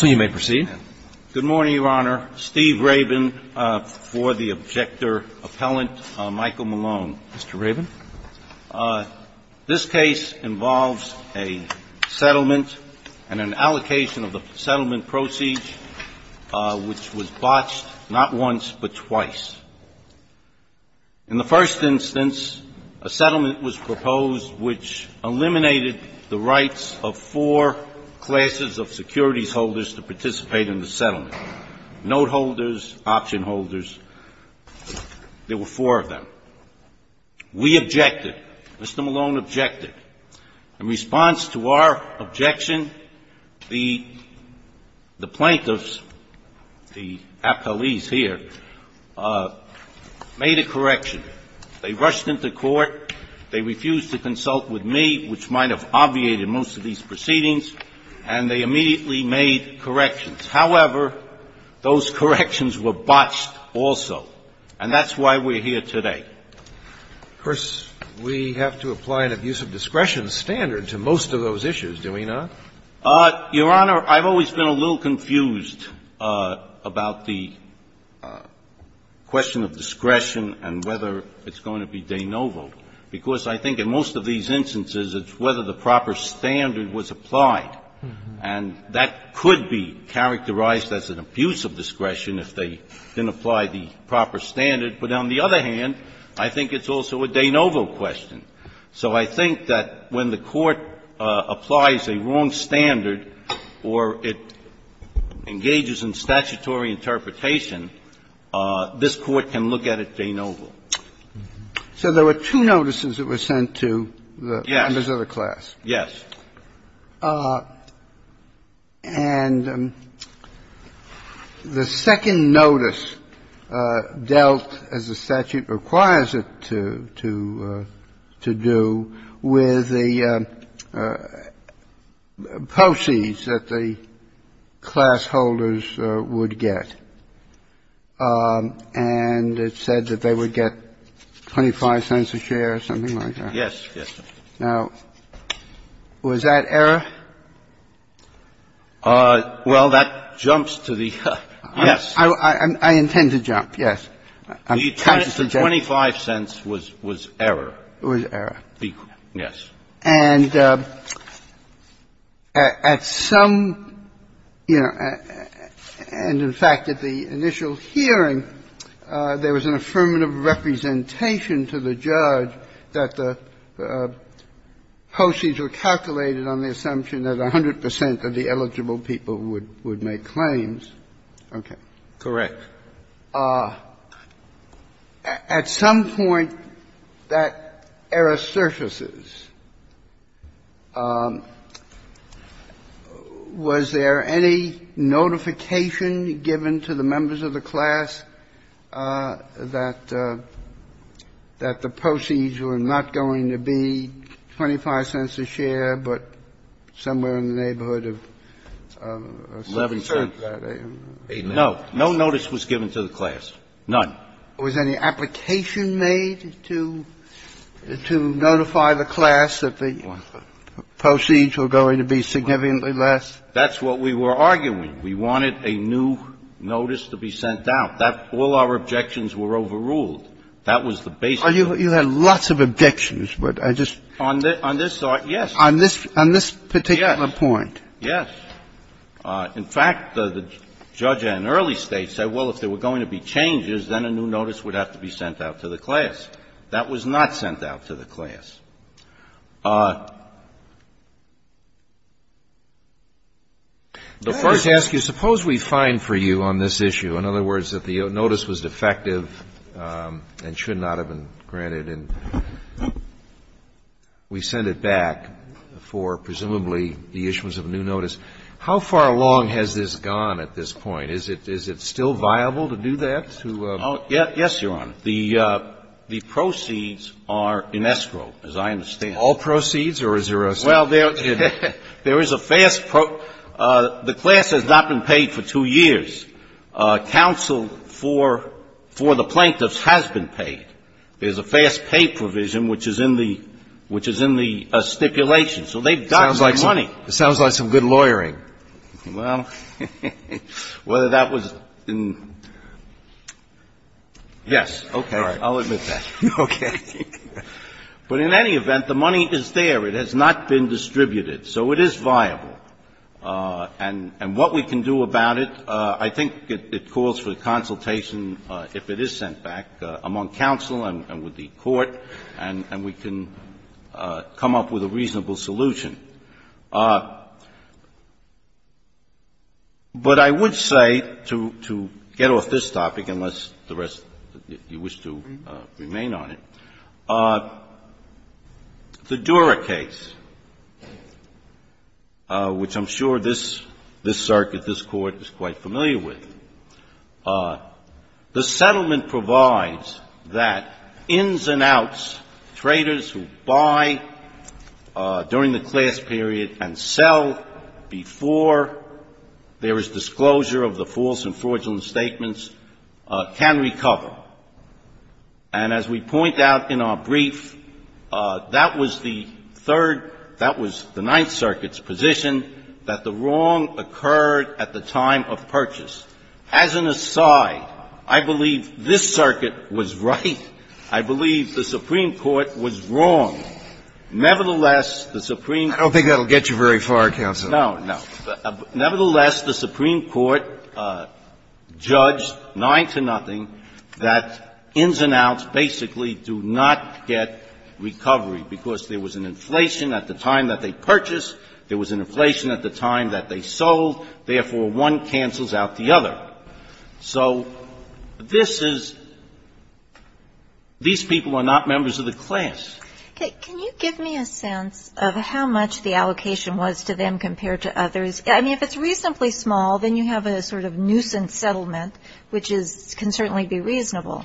Good morning, Your Honor. Steve Rabin for the objector, Appellant Michael Malone. Mr. Rabin? This case involves a settlement and an allocation of the settlement proceeds, which was botched not once but twice. In the first instance, a settlement was proposed which eliminated the rights of four classes of securities holders to participate in the settlement, note holders, option holders. There were four of them. We objected. Mr. Malone objected. In response to our objection, the plaintiffs, the appellees here, made a correction. They rushed into the court, obviated most of these proceedings, and they immediately made corrections. However, those corrections were botched also. And that's why we're here today. Of course, we have to apply an abuse of discretion standard to most of those issues, do we not? Your Honor, I've always been a little confused about the question of discretion and whether it's going to be de novo, because I think in most of these instances it's whether the proper standard was applied. And that could be characterized as an abuse of discretion if they didn't apply the proper standard. But on the other hand, I think it's also a de novo question. So I think that when the Court applies a wrong standard or it engages in statutory interpretation, this Court can look at it de novo. So there were two notices that were sent to the members of the class. Yes. And the second notice dealt, as the statute requires it to do, with the proceeds that the class holders would get. And it said that they would get 25 cents a share or something like that. Yes. Now, was that error? Well, that jumps to the yes. I intend to jump, yes. The 25 cents was error. It was error. Yes. And at some, you know, and in fact, at the initial hearing, there was an affirmative representation to the judge that the proceeds were calculated on the assumption that 100 percent of the eligible people would make claims. Okay. Correct. At some point, that error surfaces. Was there any notification given to the members of the class that the proceeds were not going to be 25 cents a share, but somewhere in the neighborhood of 11 cents? No. No notice was given to the class. None. Was any application made to notify the class that the proceeds were going to be significantly less? That's what we were arguing. We wanted a new notice to be sent out. That all our objections were overruled. That was the basis. You had lots of objections, but I just. On this part, yes. On this particular point. Yes. In fact, the judge in early States said, well, if there were going to be changes, then a new notice would have to be sent out to the class. That was not sent out to the class. The first ask is, suppose we find for you on this issue, in other words, that the notice was defective and should not have been granted, and we send it back for presumably the issuance of a new notice. How far along has this gone at this point? Is it still viable to do that? Yes, Your Honor. The proceeds are in escrow, as I understand. All proceeds or a zero sum? Well, there is a fast the class has not been paid for two years. Counsel for the plaintiffs has been paid. There is a fast pay provision which is in the stipulation, so they've got some money. It sounds like some good lawyering. Well, whether that was in yes, okay. I'll admit that. Okay. But in any event, the money is there. It has not been distributed. So it is viable. And what we can do about it, I think it calls for consultation, if it is sent back, among counsel and with the court, and we can come up with a reasonable solution. But I would say, to get off this topic, unless the rest of you wish to remain on it, the Dura case, which I'm sure this circuit, this Court, is quite familiar with, the settlement provides that ins and outs, traders who buy during the class that they sell before there is disclosure of the false and fraudulent statements can recover. And as we point out in our brief, that was the third, that was the Ninth Circuit's position, that the wrong occurred at the time of purchase. As an aside, I believe this circuit was right. I believe the Supreme Court was wrong. Nevertheless, the Supreme Court. I don't think that will get you very far, counsel. No, no. Nevertheless, the Supreme Court judged 9-0 that ins and outs basically do not get recovery, because there was an inflation at the time that they purchased, there was an inflation at the time that they sold, therefore one cancels out the other. So this is, these people are not members of the class. Okay. Can you give me a sense of how much the allocation was to them compared to others? I mean, if it's reasonably small, then you have a sort of nuisance settlement, which is, can certainly be reasonable.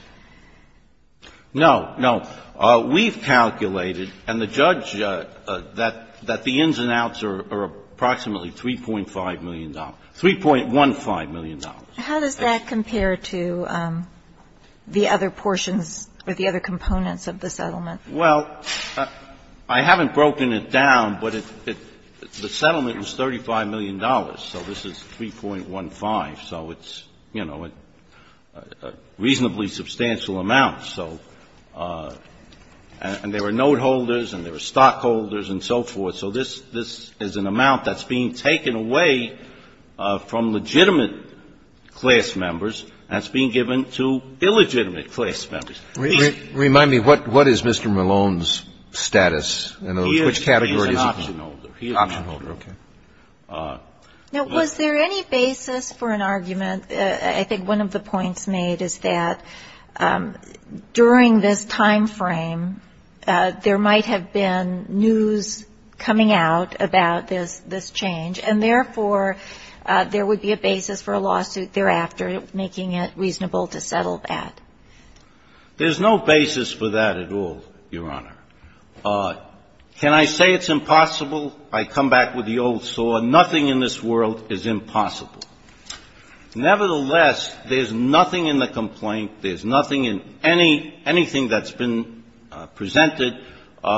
No, no. We've calculated, and the judge, that the ins and outs are approximately $3.5 million, $3.15 million. How does that compare to the other portions or the other components of the settlement? Well, I haven't broken it down, but the settlement was $35 million. So this is 3.15. So it's, you know, a reasonably substantial amount. So, and there were note holders and there were stockholders and so forth. So this, this is an amount that's being taken away from legitimate class members and it's being given to illegitimate class members. Remind me, what is Mr. Malone's status in those, which category is he? He is an option holder. He is an option holder. Okay. Now, was there any basis for an argument, I think one of the points made is that during this time frame, there might have been news coming out about this change and, therefore, there would be a basis for a lawsuit thereafter, making it reasonable to settle that. There's no basis for that at all, Your Honor. Can I say it's impossible? I come back with the old sore. Nothing in this world is impossible. Nevertheless, there's nothing in the complaint, there's nothing in any, anything that's been presented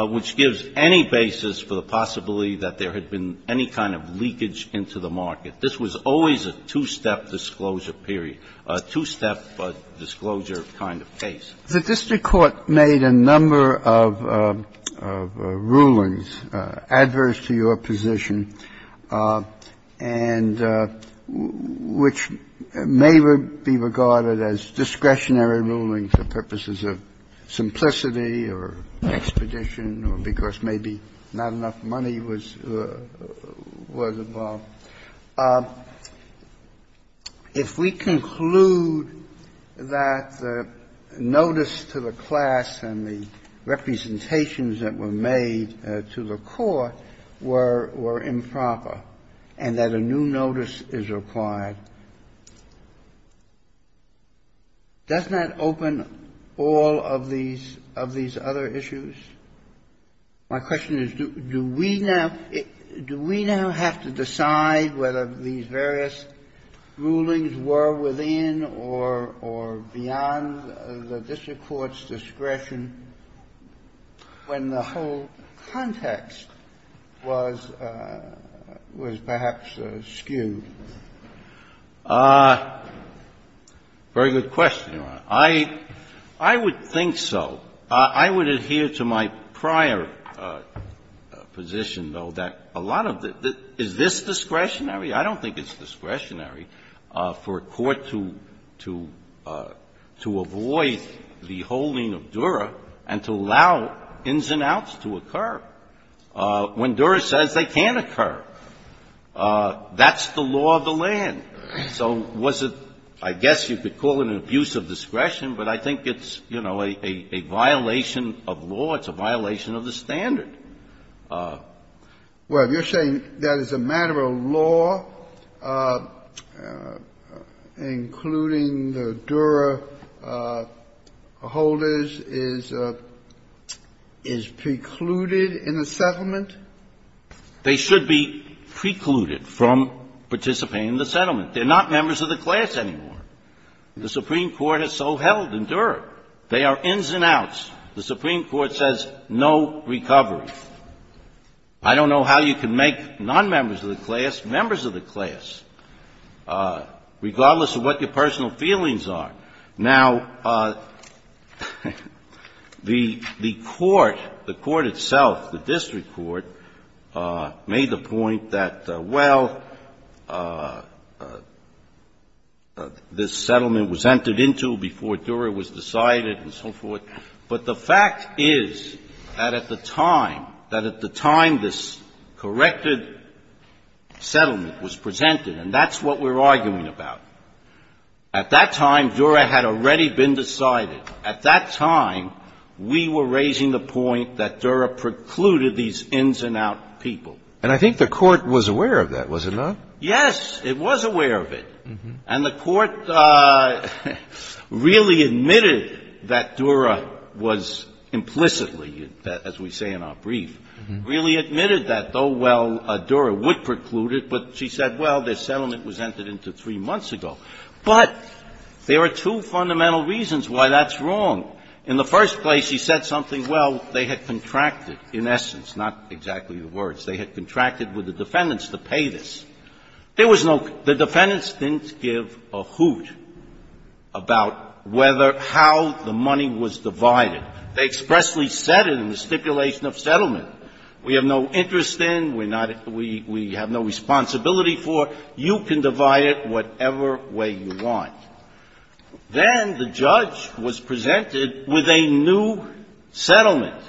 which gives any basis for the possibility that there had been any kind of leakage into the market. This was always a two-step disclosure period, a two-step disclosure kind of case. The district court made a number of rulings adverse to your position and which may be regarded as discretionary rulings for purposes of simplicity or expedition or because maybe not enough money was involved. If we conclude that notice to the class and the representations that were made to the court were improper and that a new notice is required, doesn't that open all of these other issues? My question is, do we now have to decide whether these various rulings were within or beyond the district court's discretion when the whole context was perhaps skewed? Very good question, Your Honor. I would think so. I would adhere to my prior position, though, that a lot of the – is this discretionary? I don't think it's discretionary for a court to avoid the holding of Dura and to allow ins and outs to occur when Dura says they can't occur. So was it – I guess you could call it an abuse of discretion, but I think it's, you know, a violation of law. It's a violation of the standard. Well, you're saying that as a matter of law, including the Dura holders, is precluded in a settlement? They should be precluded from participating in the settlement. They're not members of the class anymore. The Supreme Court has so held in Dura. They are ins and outs. The Supreme Court says no recovery. I don't know how you can make nonmembers of the class members of the class, regardless of what your personal feelings are. Now, the court, the court itself, the district court, made the point that, well, this settlement was entered into before Dura was decided and so forth. But the fact is that at the time, that at the time this corrected settlement was presented, and that's what we're arguing about. At that time, Dura had already been decided. At that time, we were raising the point that Dura precluded these ins and out people. And I think the court was aware of that, was it not? Yes. It was aware of it. And the court really admitted that Dura was implicitly, as we say in our brief, really admitted that, oh, well, Dura would preclude it. But she said, well, this settlement was entered into three months ago. But there are two fundamental reasons why that's wrong. In the first place, she said something, well, they had contracted, in essence, not exactly the words. They had contracted with the defendants to pay this. There was no – the defendants didn't give a hoot about whether – how the money was divided. They expressly said it in the stipulation of settlement. We have no interest in. We're not – we have no responsibility for. You can divide it whatever way you want. Then the judge was presented with a new settlement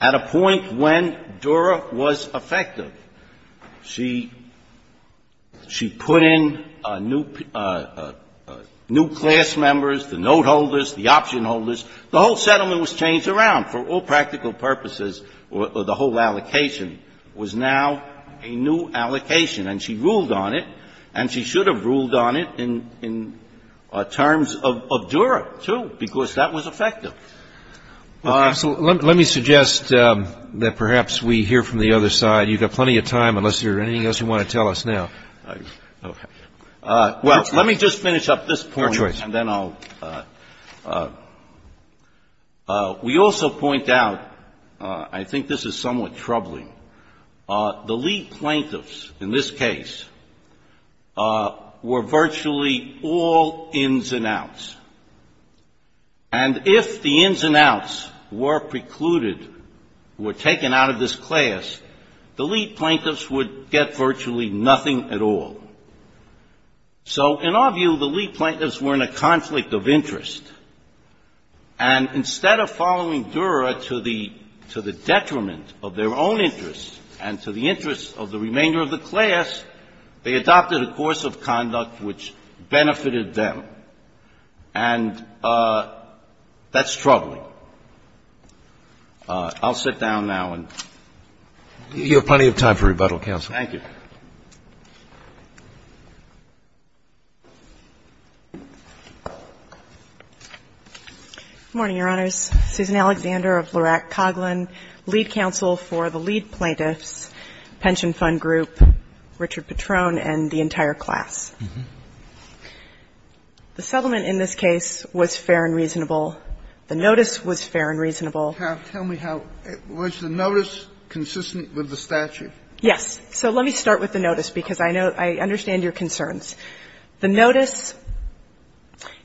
at a point when Dura was effective. She put in new class members, the note holders, the option holders. The whole settlement was changed around for all practical purposes, or the whole allocation was now a new allocation. And she ruled on it. And she should have ruled on it in terms of Dura, too, because that was effective. So let me suggest that perhaps we hear from the other side. You've got plenty of time, unless there's anything else you want to tell us now. Your choice. And then I'll – we also point out – I think this is somewhat troubling. The lead plaintiffs in this case were virtually all ins and outs. And if the ins and outs were precluded, were taken out of this class, the lead plaintiffs would get virtually nothing at all. So in our view, the lead plaintiffs were in a conflict of interest. And instead of following Dura to the – to the detriment of their own interests and to the interests of the remainder of the class, they adopted a course of conduct which benefited them. And that's troubling. I'll sit down now and – You have plenty of time for rebuttal, counsel. Good morning, Your Honors. Susan Alexander of Lerack Coghlan, lead counsel for the lead plaintiffs, pension fund group, Richard Patron, and the entire class. The settlement in this case was fair and reasonable. The notice was fair and reasonable. Tell me how – was the notice consistent with the statute? Yes. So let me start with the notice, because I know – I understand your concerns. The notice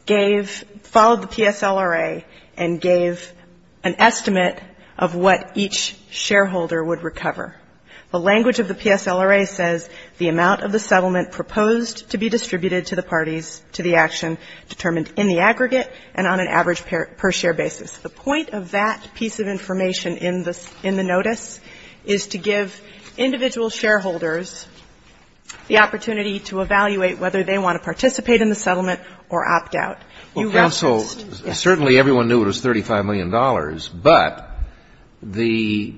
gave – followed the PSLRA and gave an estimate of what each shareholder would recover. The language of the PSLRA says the amount of the settlement proposed to be distributed to the parties to the action determined in the aggregate and on an average per share basis. The point of that piece of information in the notice is to give individual shareholders the opportunity to evaluate whether they want to participate in the settlement or opt out. You referenced – Well, counsel, certainly everyone knew it was $35 million, but the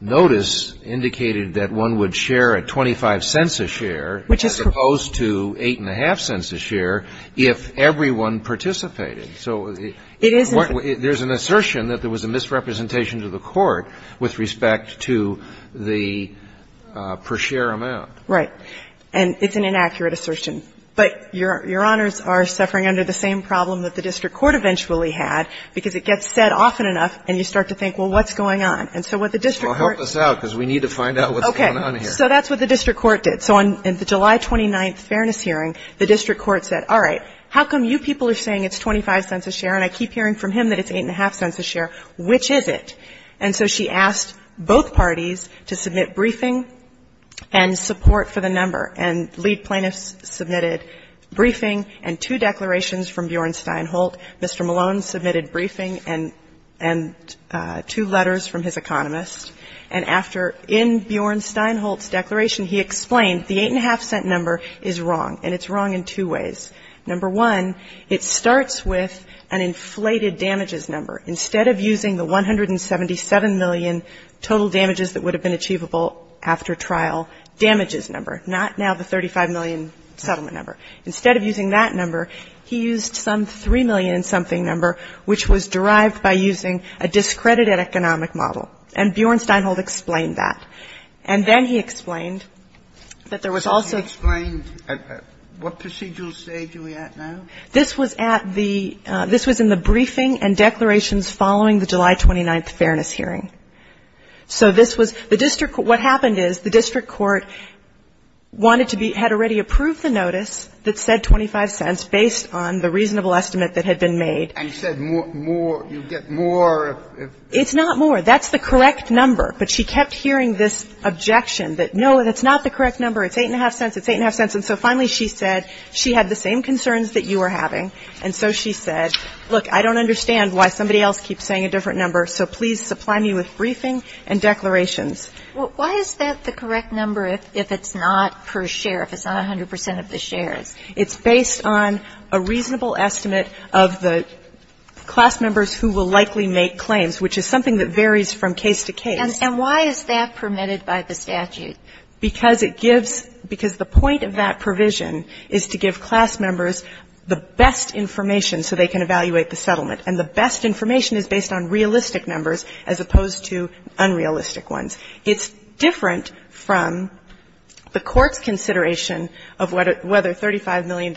notice indicated that one would share a 25 cents a share as opposed to 8.5 cents a share if everyone participated. So there's an assertion that there was a misrepresentation to the court with respect to the per share amount. Right. And it's an inaccurate assertion. But Your Honors are suffering under the same problem that the district court eventually had, because it gets said often enough and you start to think, well, what's going on? And so what the district court – Well, help us out, because we need to find out what's going on here. Okay. So that's what the district court did. So in the July 29th fairness hearing, the district court said, all right, how come you people are saying it's 25 cents a share and I keep hearing from him that it's 8.5 cents a share? Which is it? And so she asked both parties to submit briefing and support for the number. And lead plaintiffs submitted briefing and two declarations from Bjorn Steinholt. Mr. Malone submitted briefing and two letters from his economist. And after, in Bjorn Steinholt's declaration, he explained the 8.5 cent number is wrong, and it's wrong in two ways. Number one, it starts with an inflated damages number. Instead of using the 177 million total damages that would have been achievable after trial damages number, not now the 35 million settlement number, instead of using that number, he used some 3 million-something number, which was derived by using a discredited economic model. And Bjorn Steinholt explained that. And then he explained that there was also – And what procedural stage are we at now? This was at the – this was in the briefing and declarations following the July 29th Fairness Hearing. So this was – the district – what happened is the district court wanted to be – had already approved the notice that said 25 cents based on the reasonable estimate that had been made. And said more – you get more if – if – It's not more. That's the correct number. But she kept hearing this objection that, no, that's not the correct number. It's 8.5 cents. It's 8.5 cents. And so finally she said – she had the same concerns that you were having, and so she said, look, I don't understand why somebody else keeps saying a different number, so please supply me with briefing and declarations. Well, why is that the correct number if it's not per share, if it's not 100 percent of the shares? It's based on a reasonable estimate of the class members who will likely make claims, which is something that varies from case to case. And why is that permitted by the statute? Because it gives – because the point of that provision is to give class members the best information so they can evaluate the settlement. And the best information is based on realistic numbers as opposed to unrealistic ones. It's different from the court's consideration of whether $35 million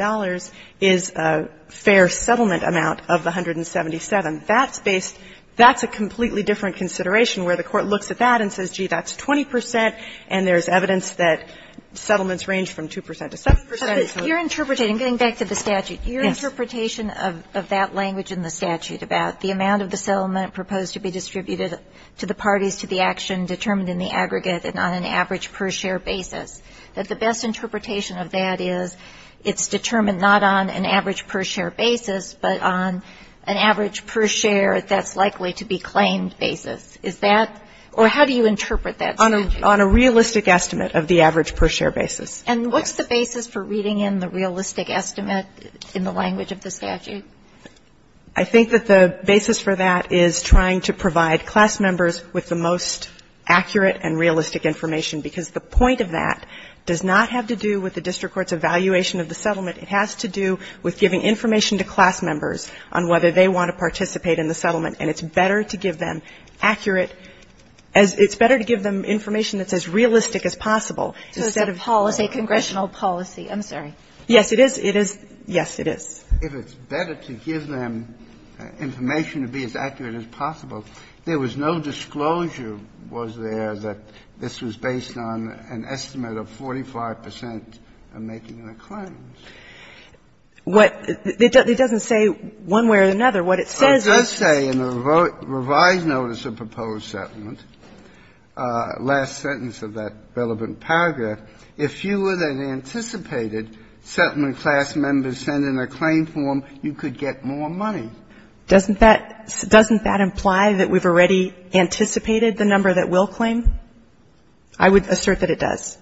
is a fair settlement amount of the 177. That's based – that's a completely different consideration where the court looks at that and says, gee, that's 20 percent, and there's evidence that settlements range from 2 percent to 7 percent. Kagan. Kagan. Kagan. And getting back to the statute, your interpretation of that language in the statute about the amount of the settlement proposed to be distributed to the parties to the action determined in the aggregate and on an average per share basis, that the best interpretation of that is it's determined not on an average per share basis, but on an average per share that's likely to be claimed basis. Is that – or how do you interpret that statute? On a realistic estimate of the average per share basis. And what's the basis for reading in the realistic estimate in the language of the statute? I think that the basis for that is trying to provide class members with the most accurate and realistic information, because the point of that does not have to do with the district court's evaluation of the settlement. It has to do with giving information to class members on whether they want to participate in the settlement. And it's better to give them accurate as – it's better to give them information that's as realistic as possible instead of – So it's a policy, congressional policy. I'm sorry. Yes, it is. It is. Yes, it is. If it's better to give them information to be as accurate as possible, there was no disclosure, was there, that this was based on an estimate of 45 percent of making What – it doesn't say one way or another. What it says is – But it does say in the revised notice of proposed settlement, last sentence of that relevant paragraph, if fewer than anticipated settlement class members send in a claim form, you could get more money. Doesn't that – doesn't that imply that we've already anticipated the number that will claim? I would assert that it does.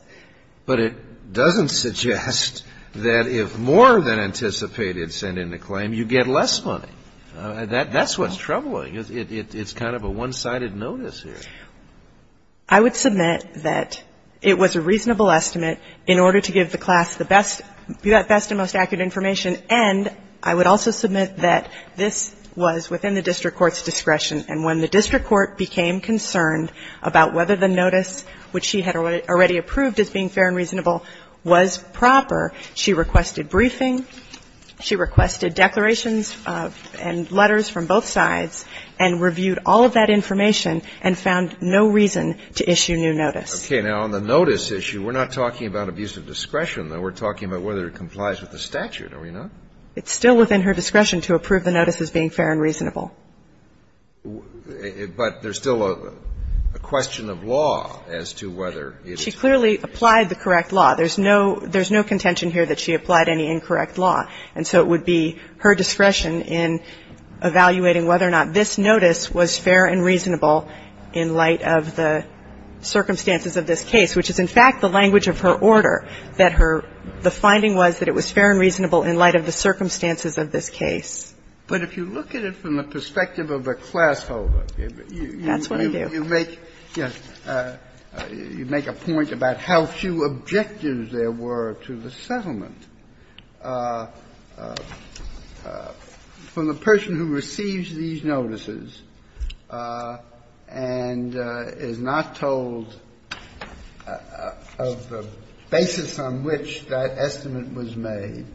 But it doesn't suggest that if more than anticipated send in a claim, you get less money. That's what's troubling. It's kind of a one-sided notice here. I would submit that it was a reasonable estimate in order to give the class the best – the best and most accurate information. And I would also submit that this was within the district court's discretion. And when the district court became concerned about whether the notice, which she had already approved as being fair and reasonable, was proper, she requested briefing, she requested declarations and letters from both sides, and reviewed all of that information and found no reason to issue new notice. Okay. Now, on the notice issue, we're not talking about abuse of discretion, though. We're talking about whether it complies with the statute, are we not? It's still within her discretion to approve the notice as being fair and reasonable. But there's still a question of law as to whether it's fair and reasonable. She clearly applied the correct law. There's no – there's no contention here that she applied any incorrect law. And so it would be her discretion in evaluating whether or not this notice was fair and reasonable in light of the circumstances of this case, which is, in fact, the language of her order, that her – the finding was that it was fair and reasonable in light of the circumstances of this case. But if you look at it from the perspective of a class holder, you make – That's what I do. You make – yes. You make a point about how few objectives there were to the settlement. From the person who receives these notices and is not told of the basis on which that estimate was made,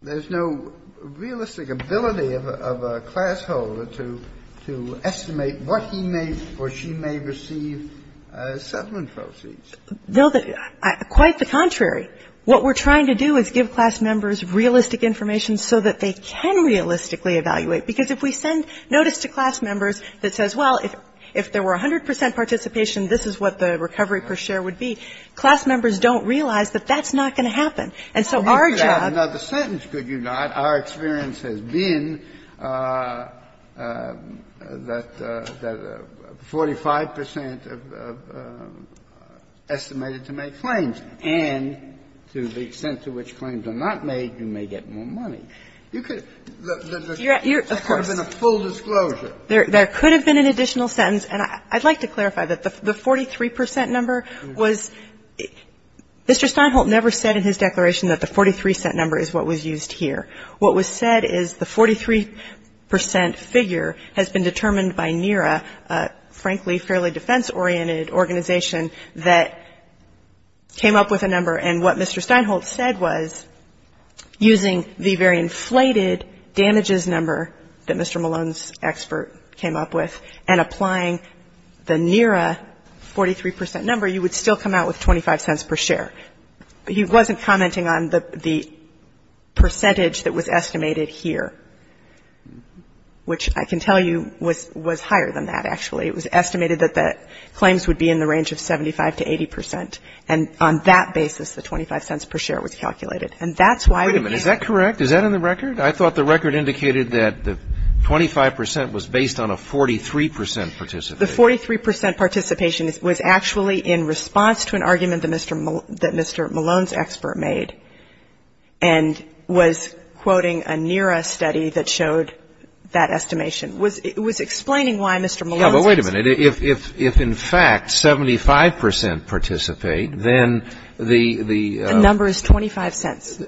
there's no realistic ability of a class holder to estimate what he may or she may receive as settlement proceeds. No, quite the contrary. What we're trying to do is give class members realistic information so that they can realistically evaluate. Because if we send notice to class members that says, well, if there were 100 percent participation, this is what the recovery per share would be, class members don't realize that that's not going to happen. And so our job – We could have another sentence, could you not? Our experience has been that 45 percent of estimated to make claims. And to the extent to which claims are not made, you may get more money. You could – there could have been a full disclosure. There could have been an additional sentence. And I'd like to clarify that the 43 percent number was – Mr. Steinholt never said in his declaration that the 43 cent number is what was used here. What was said is the 43 percent figure has been determined by NERA, a, frankly, fairly defense-oriented organization that came up with a number. And what Mr. Steinholt said was, using the very inflated damages number that Mr. Steinholt came up with, and applying the NERA 43 percent number, you would still come out with 25 cents per share. But he wasn't commenting on the percentage that was estimated here, which I can tell you was higher than that, actually. It was estimated that the claims would be in the range of 75 to 80 percent. And on that basis, the 25 cents per share was calculated. And that's why we can't – Wait a minute. Is that correct? Is that in the record? I thought the record indicated that the 25 percent was based on a 43 percent participation. The 43 percent participation was actually in response to an argument that Mr. Malone's expert made, and was quoting a NERA study that showed that estimation. It was explaining why Mr. Malone's – No, but wait a minute. If in fact 75 percent participate, then the – The number is 25 cents.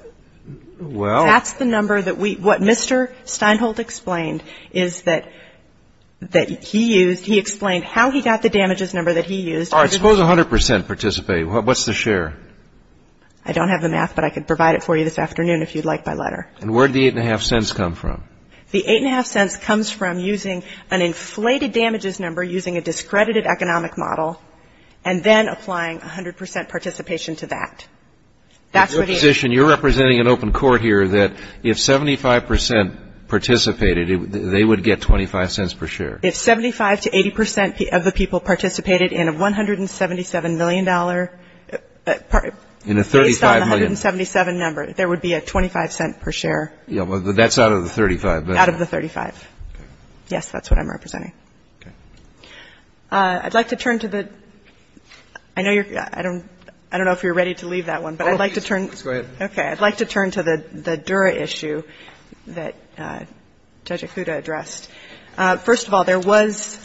Well – That's the number that we – what Mr. Steinholt explained is that he used – he explained how he got the damages number that he used. All right. Suppose 100 percent participate. What's the share? I don't have the math, but I could provide it for you this afternoon if you'd like my letter. And where did the 8.5 cents come from? The 8.5 cents comes from using an inflated damages number, using a discredited economic model, and then applying 100 percent participation to that. That's what it is. Your position, you're representing an open court here that if 75 percent participated, they would get 25 cents per share. If 75 to 80 percent of the people participated in a $177 million – In a 35 million – Based on the 177 number, there would be a 25 cent per share. Yeah, but that's out of the 35. Out of the 35. Okay. Yes, that's what I'm representing. Okay. I'd like to turn to the – I know you're – I don't know if you're ready to leave that one, but I'd like to turn – Go ahead. Okay. I'd like to turn to the Dura issue that Judge Ikuda addressed. First of all, there was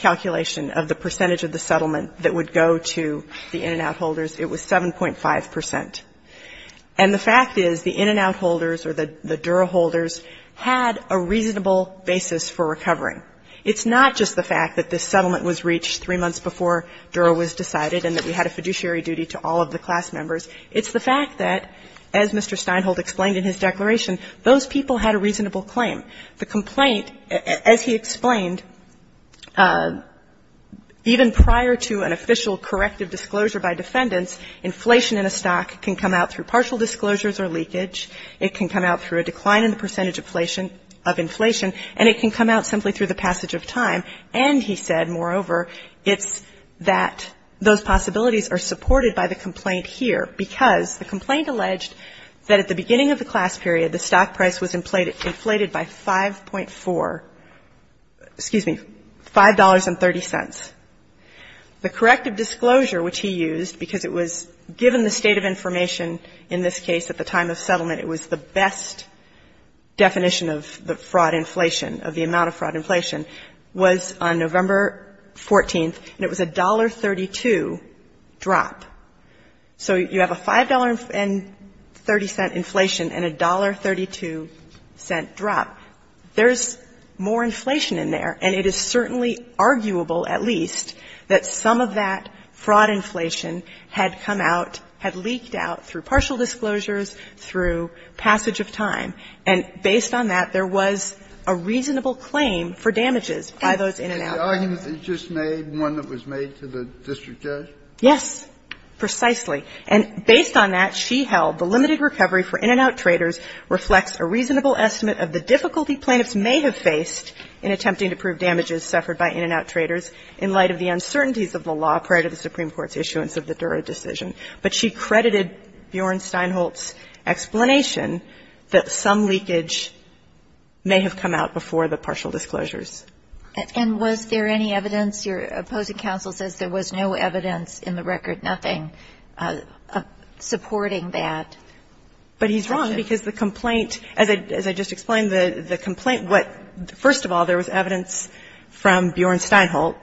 calculation of the percentage of the settlement that would go to the in and out holders. It was 7.5 percent. And the fact is the in and out holders or the Dura holders had a reasonable basis for recovering. It's not just the fact that this settlement was reached three months before Dura was decided and that we had a fiduciary duty to all of the class members. It's the fact that, as Mr. Steinholt explained in his declaration, those people had a reasonable claim. The complaint, as he explained, even prior to an official corrective disclosure by defendants, inflation in a stock can come out through partial disclosures or leakage. It can come out through a decline in the percentage of inflation and it can come out simply through the passage of time. And he said, moreover, it's that those possibilities are supported by the complaint here because the complaint alleged that at the beginning of the class period, the stock price was inflated by 5.4, excuse me, $5.30. The corrective disclosure, which he used, because it was given the state of information in this case at the time of settlement, it was the best definition of the fraud inflation, of the amount of fraud inflation, was on November 14th and it was $1.32 drop. So you have a $5.30 inflation and a $1.32 drop. There's more inflation in there, and it is certainly arguable at least that some of that fraud inflation had come out, had leaked out through partial disclosures, through passage of time. And based on that, there was a reasonable claim for damages by those in-and-out traders. Kennedy. And the argument that you just made, one that was made to the district judge? Yes, precisely. And based on that, she held the limited recovery for in-and-out traders reflects a reasonable estimate of the difficulty plaintiffs may have faced in attempting to prove damages suffered by in-and-out traders in light of the uncertainties of the law prior to the Supreme Court's issuance of the Dura decision. But she credited Bjorn Steinholtz's explanation that some leakage may have come out before the partial disclosures. And was there any evidence? Your opposing counsel says there was no evidence in the record, nothing, supporting that. But he's wrong because the complaint, as I just explained, the complaint what, first of all, there was evidence from Bjorn Steinholt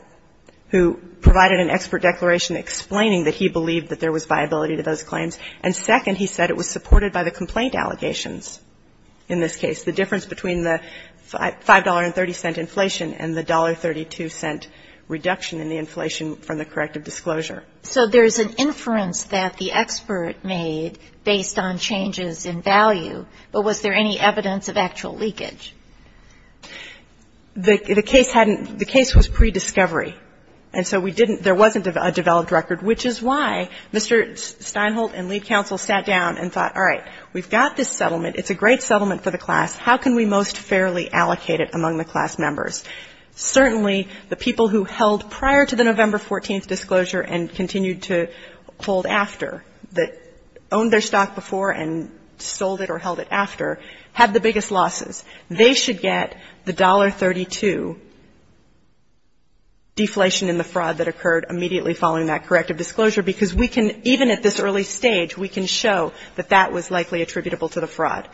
who provided an expert declaration explaining that he believed that there was viability to those claims. And second, he said it was supported by the complaint allegations in this case, the difference between the $5.30 inflation and the $1.32 reduction in the inflation from the corrective disclosure. So there's an inference that the expert made based on changes in value, but was there any evidence of actual leakage? The case hadn't the case was pre-discovery, and so we didn't there wasn't a developed record, which is why Mr. Steinholt and lead counsel sat down and thought, all right, we've got this settlement. It's a great settlement for the class. How can we most fairly allocate it among the class members? Certainly, the people who held prior to the November 14th disclosure and continued to hold after, that owned their stock before and sold it or held it after, had the biggest losses. They should get the $1.32 deflation in the fraud that occurred immediately following that corrective disclosure, because we can, even at this early stage, we can show that that was likely attributable to the fraud.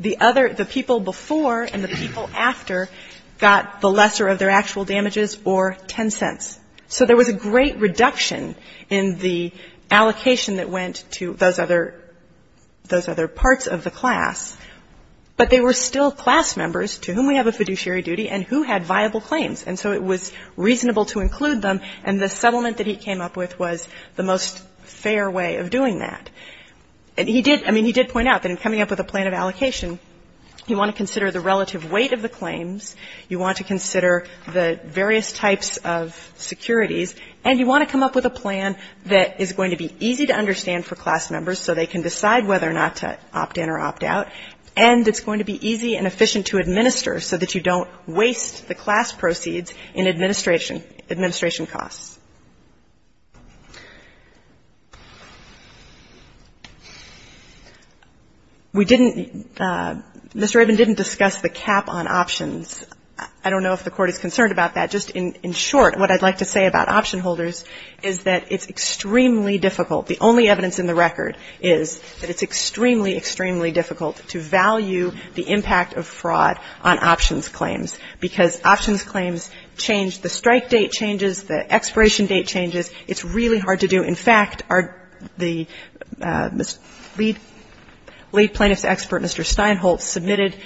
The other the people before and the people after got the lesser of their actual damages or 10 cents. So there was a great reduction in the allocation that went to those other those other parts of the class. But they were still class members to whom we have a fiduciary duty and who had viable claims. And so it was reasonable to include them, and the settlement that he came up with was the most fair way of doing that. And he did, I mean, he did point out that in coming up with a plan of allocation, you want to consider the relative weight of the claims, you want to consider the various types of securities, and you want to come up with a plan that is going to be easy and efficient to administer so that you don't waste the class proceeds in administration costs. We didn't, Mr. Rabin didn't discuss the cap on options. I don't know if the Court is concerned about that. Just in short, what I'd like to say about option holders is that it's extremely difficult. The only evidence in the record is that it's extremely, extremely difficult to value the impact of fraud on options claims, because options claims change, the strike date changes, the expiration date changes. It's really hard to do. In fact, the lead plaintiff's expert, Mr. Steinholtz, submitted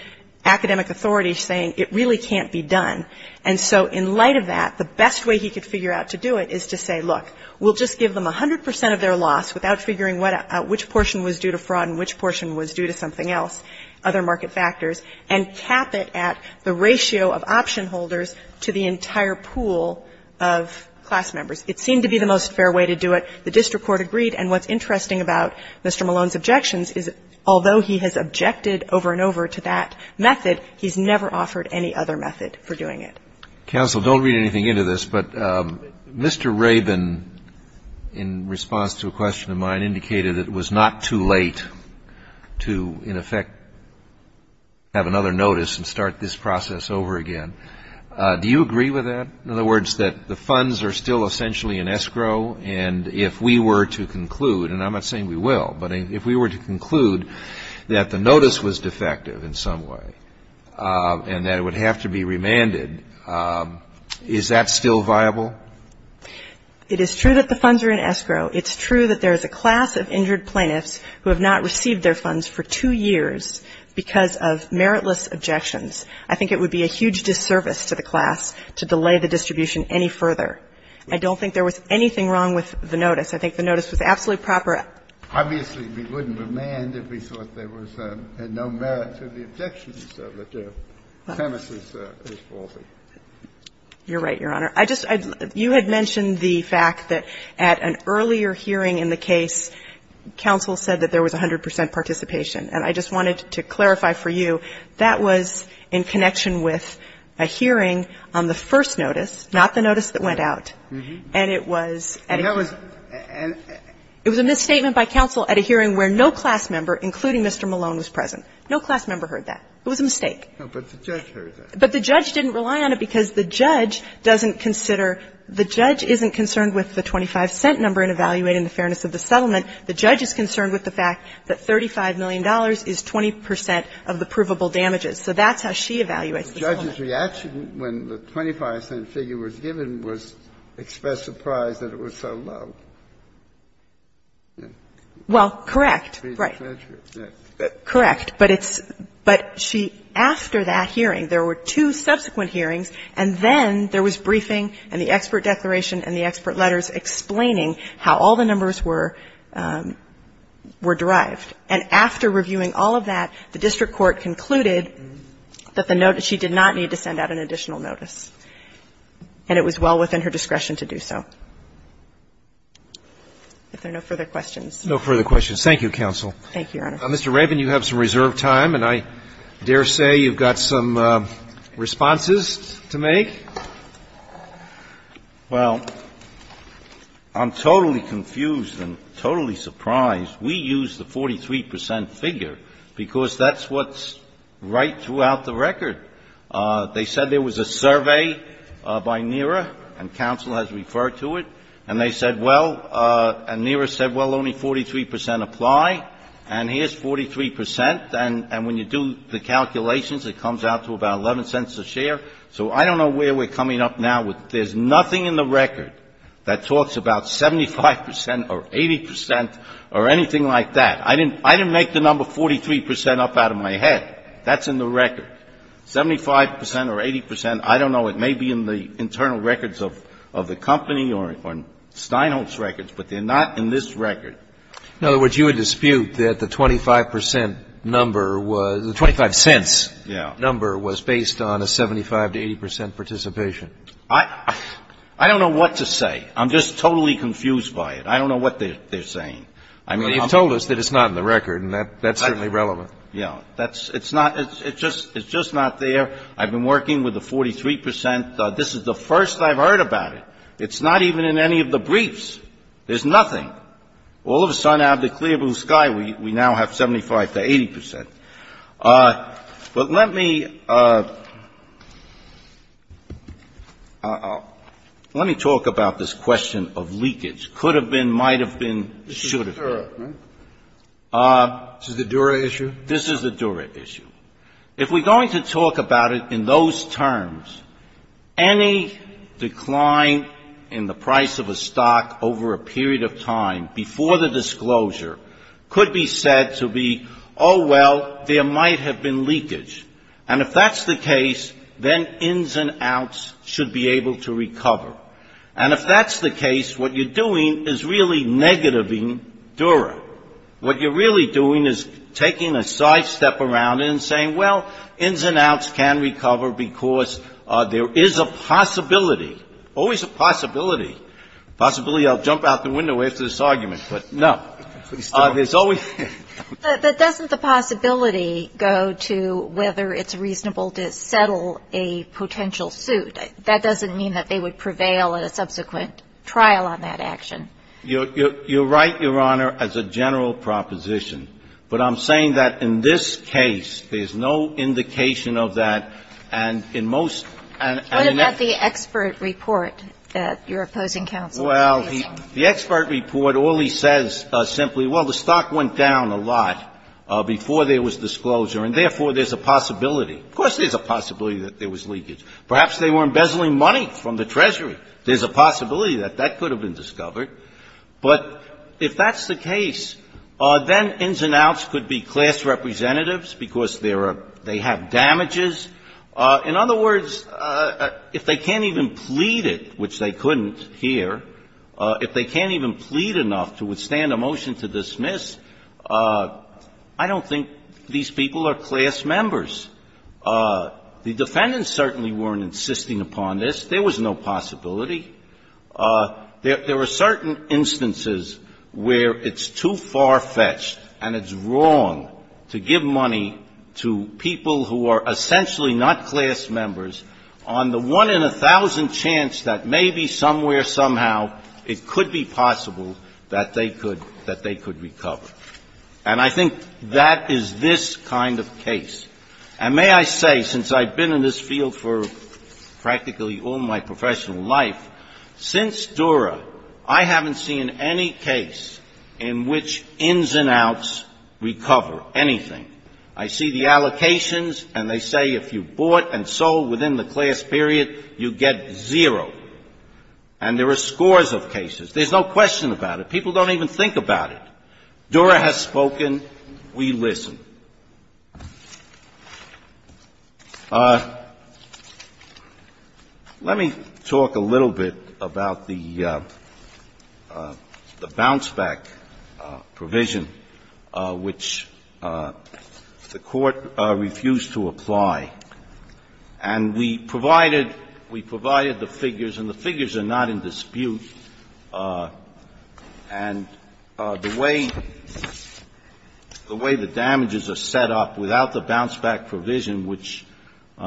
academic authority saying it really can't be done. And so in light of that, the best way he could figure out to do it is to say, look, we'll just give them 100 percent of their loss without figuring out which portion was due to fraud and which portion was due to something else, other market factors, and cap it at the ratio of option holders to the entire pool of class members. It seemed to be the most fair way to do it. The district court agreed. And what's interesting about Mr. Malone's objections is although he has objected over and over to that method, he's never offered any other method for doing it. Counsel, don't read anything into this, but Mr. Rabin, in response to a question of mine, indicated that it was not too late to, in effect, have another notice and start this process over again. Do you agree with that? In other words, that the funds are still essentially in escrow, and if we were to conclude and I'm not saying we will, but if we were to conclude that the notice was defective in some way and that it would have to be remanded, is that still viable? It is true that the funds are in escrow. It's true that there is a class of injured plaintiffs who have not received their funds for two years because of meritless objections. I think it would be a huge disservice to the class to delay the distribution any further. I don't think there was anything wrong with the notice. I think the notice was absolutely proper. Obviously, we wouldn't remand if we thought there was no merit to the objections that the premise is false. You're right, Your Honor. I just, you had mentioned the fact that at an earlier hearing in the case, counsel said that there was 100 percent participation. And I just wanted to clarify for you, that was in connection with a hearing on the first notice, not the notice that went out. And it was at a hearing. It was a misstatement by counsel at a hearing where no class member, including Mr. Malone, was present. No class member heard that. It was a mistake. But the judge heard that. But the judge didn't rely on it because the judge doesn't consider the judge isn't concerned with the 25-cent number in evaluating the fairness of the settlement. The judge is concerned with the fact that $35 million is 20 percent of the provable damages. So that's how she evaluates the settlement. The judge's reaction when the 25-cent figure was given was, expressed surprise, that it was so low. Well, correct. Right. Correct. But it's – but she, after that hearing, there were two subsequent hearings, and then there was briefing and the expert declaration and the expert letters explaining how all the numbers were, were derived. And after reviewing all of that, the district court concluded that the notice was well within her discretion to do so, and that she did not need to send out an additional notice, and it was well within her discretion to do so. If there are no further questions. Roberts. No further questions. Thank you, counsel. Thank you, Your Honor. Mr. Raven, you have some reserved time, and I dare say you've got some responses to make. Well, I'm totally confused and totally surprised. We used the 43-percent figure because that's what's right throughout the record. They said there was a survey by NERA, and counsel has referred to it, and they said, well, and NERA said, well, only 43 percent apply, and here's 43 percent, and when you do the calculations, it comes out to about 11 cents a share. So I don't know where we're coming up now with – there's nothing in the record that talks about 75 percent or 80 percent or anything like that. I didn't make the number 43 percent up out of my head. That's in the record. Seventy-five percent or 80 percent, I don't know. It may be in the internal records of the company or Steinholz records, but they're not in this record. In other words, you would dispute that the 25 percent number was – the 25 cents number was based on a 75 to 80 percent participation. I don't know what to say. I'm just totally confused by it. I don't know what they're saying. I mean, you've told us that it's not in the record, and that's certainly relevant. Yeah. That's – it's not – it's just – it's just not there. I've been working with the 43 percent. This is the first I've heard about it. It's not even in any of the briefs. There's nothing. All of a sudden, out of the clear blue sky, we now have 75 to 80 percent. But let me – let me talk about this question of leakage. Could have been, might have been, should have been. This is the Dura, right? This is the Dura issue? This is the Dura issue. If we're going to talk about it in those terms, any decline in the price of a stock over a period of time before the disclosure could be said to be, oh, well, there might have been leakage. And if that's the case, then ins and outs should be able to recover. And if that's the case, what you're doing is really negativing Dura. What you're really doing is taking a sidestep around it and saying, well, ins and outs can recover because there is a possibility – always a possibility. Possibility, I'll jump out the window after this argument, but no. There's always – But doesn't the possibility go to whether it's reasonable to settle a potential suit? That doesn't mean that they would prevail in a subsequent trial on that action. You're right, Your Honor, as a general proposition. But I'm saying that in this case, there's no indication of that. And in most – What about the expert report that you're opposing counsel on? Well, the expert report only says simply, well, the stock went down a lot before there was disclosure, and therefore, there's a possibility. Of course there's a possibility that there was leakage. Perhaps they were embezzling money from the Treasury. There's a possibility that that could have been discovered. But if that's the case, then ins and outs could be class representatives because there are – they have damages. In other words, if they can't even plead it, which they couldn't here, if they can't even plead enough to withstand a motion to dismiss, I don't think these people are class members. The defendants certainly weren't insisting upon this. There was no possibility. There are certain instances where it's too far-fetched and it's wrong to give money to people who are essentially not class members on the one in a thousand chance that maybe somewhere, somehow, it could be possible that they could – that they could recover. And I think that is this kind of case. And may I say, since I've been in this field for practically all my professional life, since Dura, I haven't seen any case in which ins and outs recover anything. I see the allocations, and they say if you bought and sold within the class period, you get zero. And there are scores of cases. There's no question about it. People don't even think about it. Dura has spoken. We listen. Let me talk a little bit about the bounce-back provision, which I think is a little The Court refused to apply. And we provided – we provided the figures, and the figures are not in dispute. And the way – the way the damages are set up without the bounce-back provision, which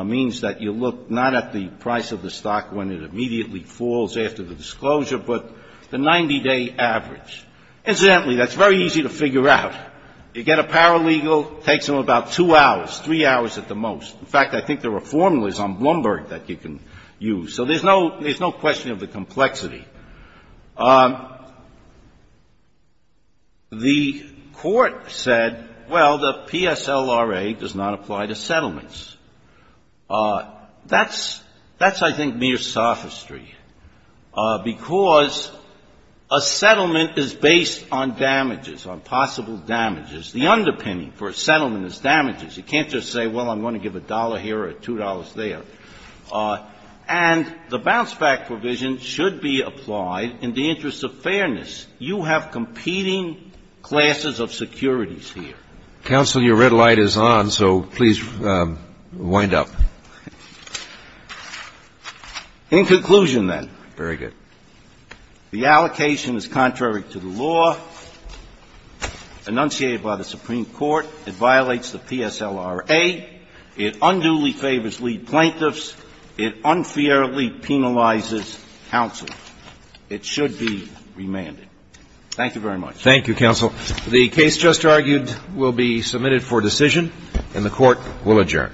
means that you look not at the price of the stock when it immediately falls after the disclosure, but the 90-day average. Incidentally, that's very easy to figure out. You get a paralegal, takes them about two hours, three hours at the most. In fact, I think there are formulas on Bloomberg that you can use. So there's no – there's no question of the complexity. The Court said, well, the PSLRA does not apply to settlements. That's – that's, I think, mere sophistry, because a settlement is based on damages, on possible damages. The underpinning for a settlement is damages. You can't just say, well, I'm going to give a dollar here or two dollars there. And the bounce-back provision should be applied in the interest of fairness. You have competing classes of securities here. Counsel, your red light is on, so please wind up. In conclusion, then. Very good. The allocation is contrary to the law enunciated by the Supreme Court. It violates the PSLRA. It unduly favors lead plaintiffs. It unfairly penalizes counsel. It should be remanded. Thank you very much. Thank you, counsel. The case just argued will be submitted for decision, and the Court will adjourn. All rise. Hear ye, hear ye. All persons present on bishops and general of the United States Court of Appeals for the 9th Circuit will now depart. This court will this session now stand and serve.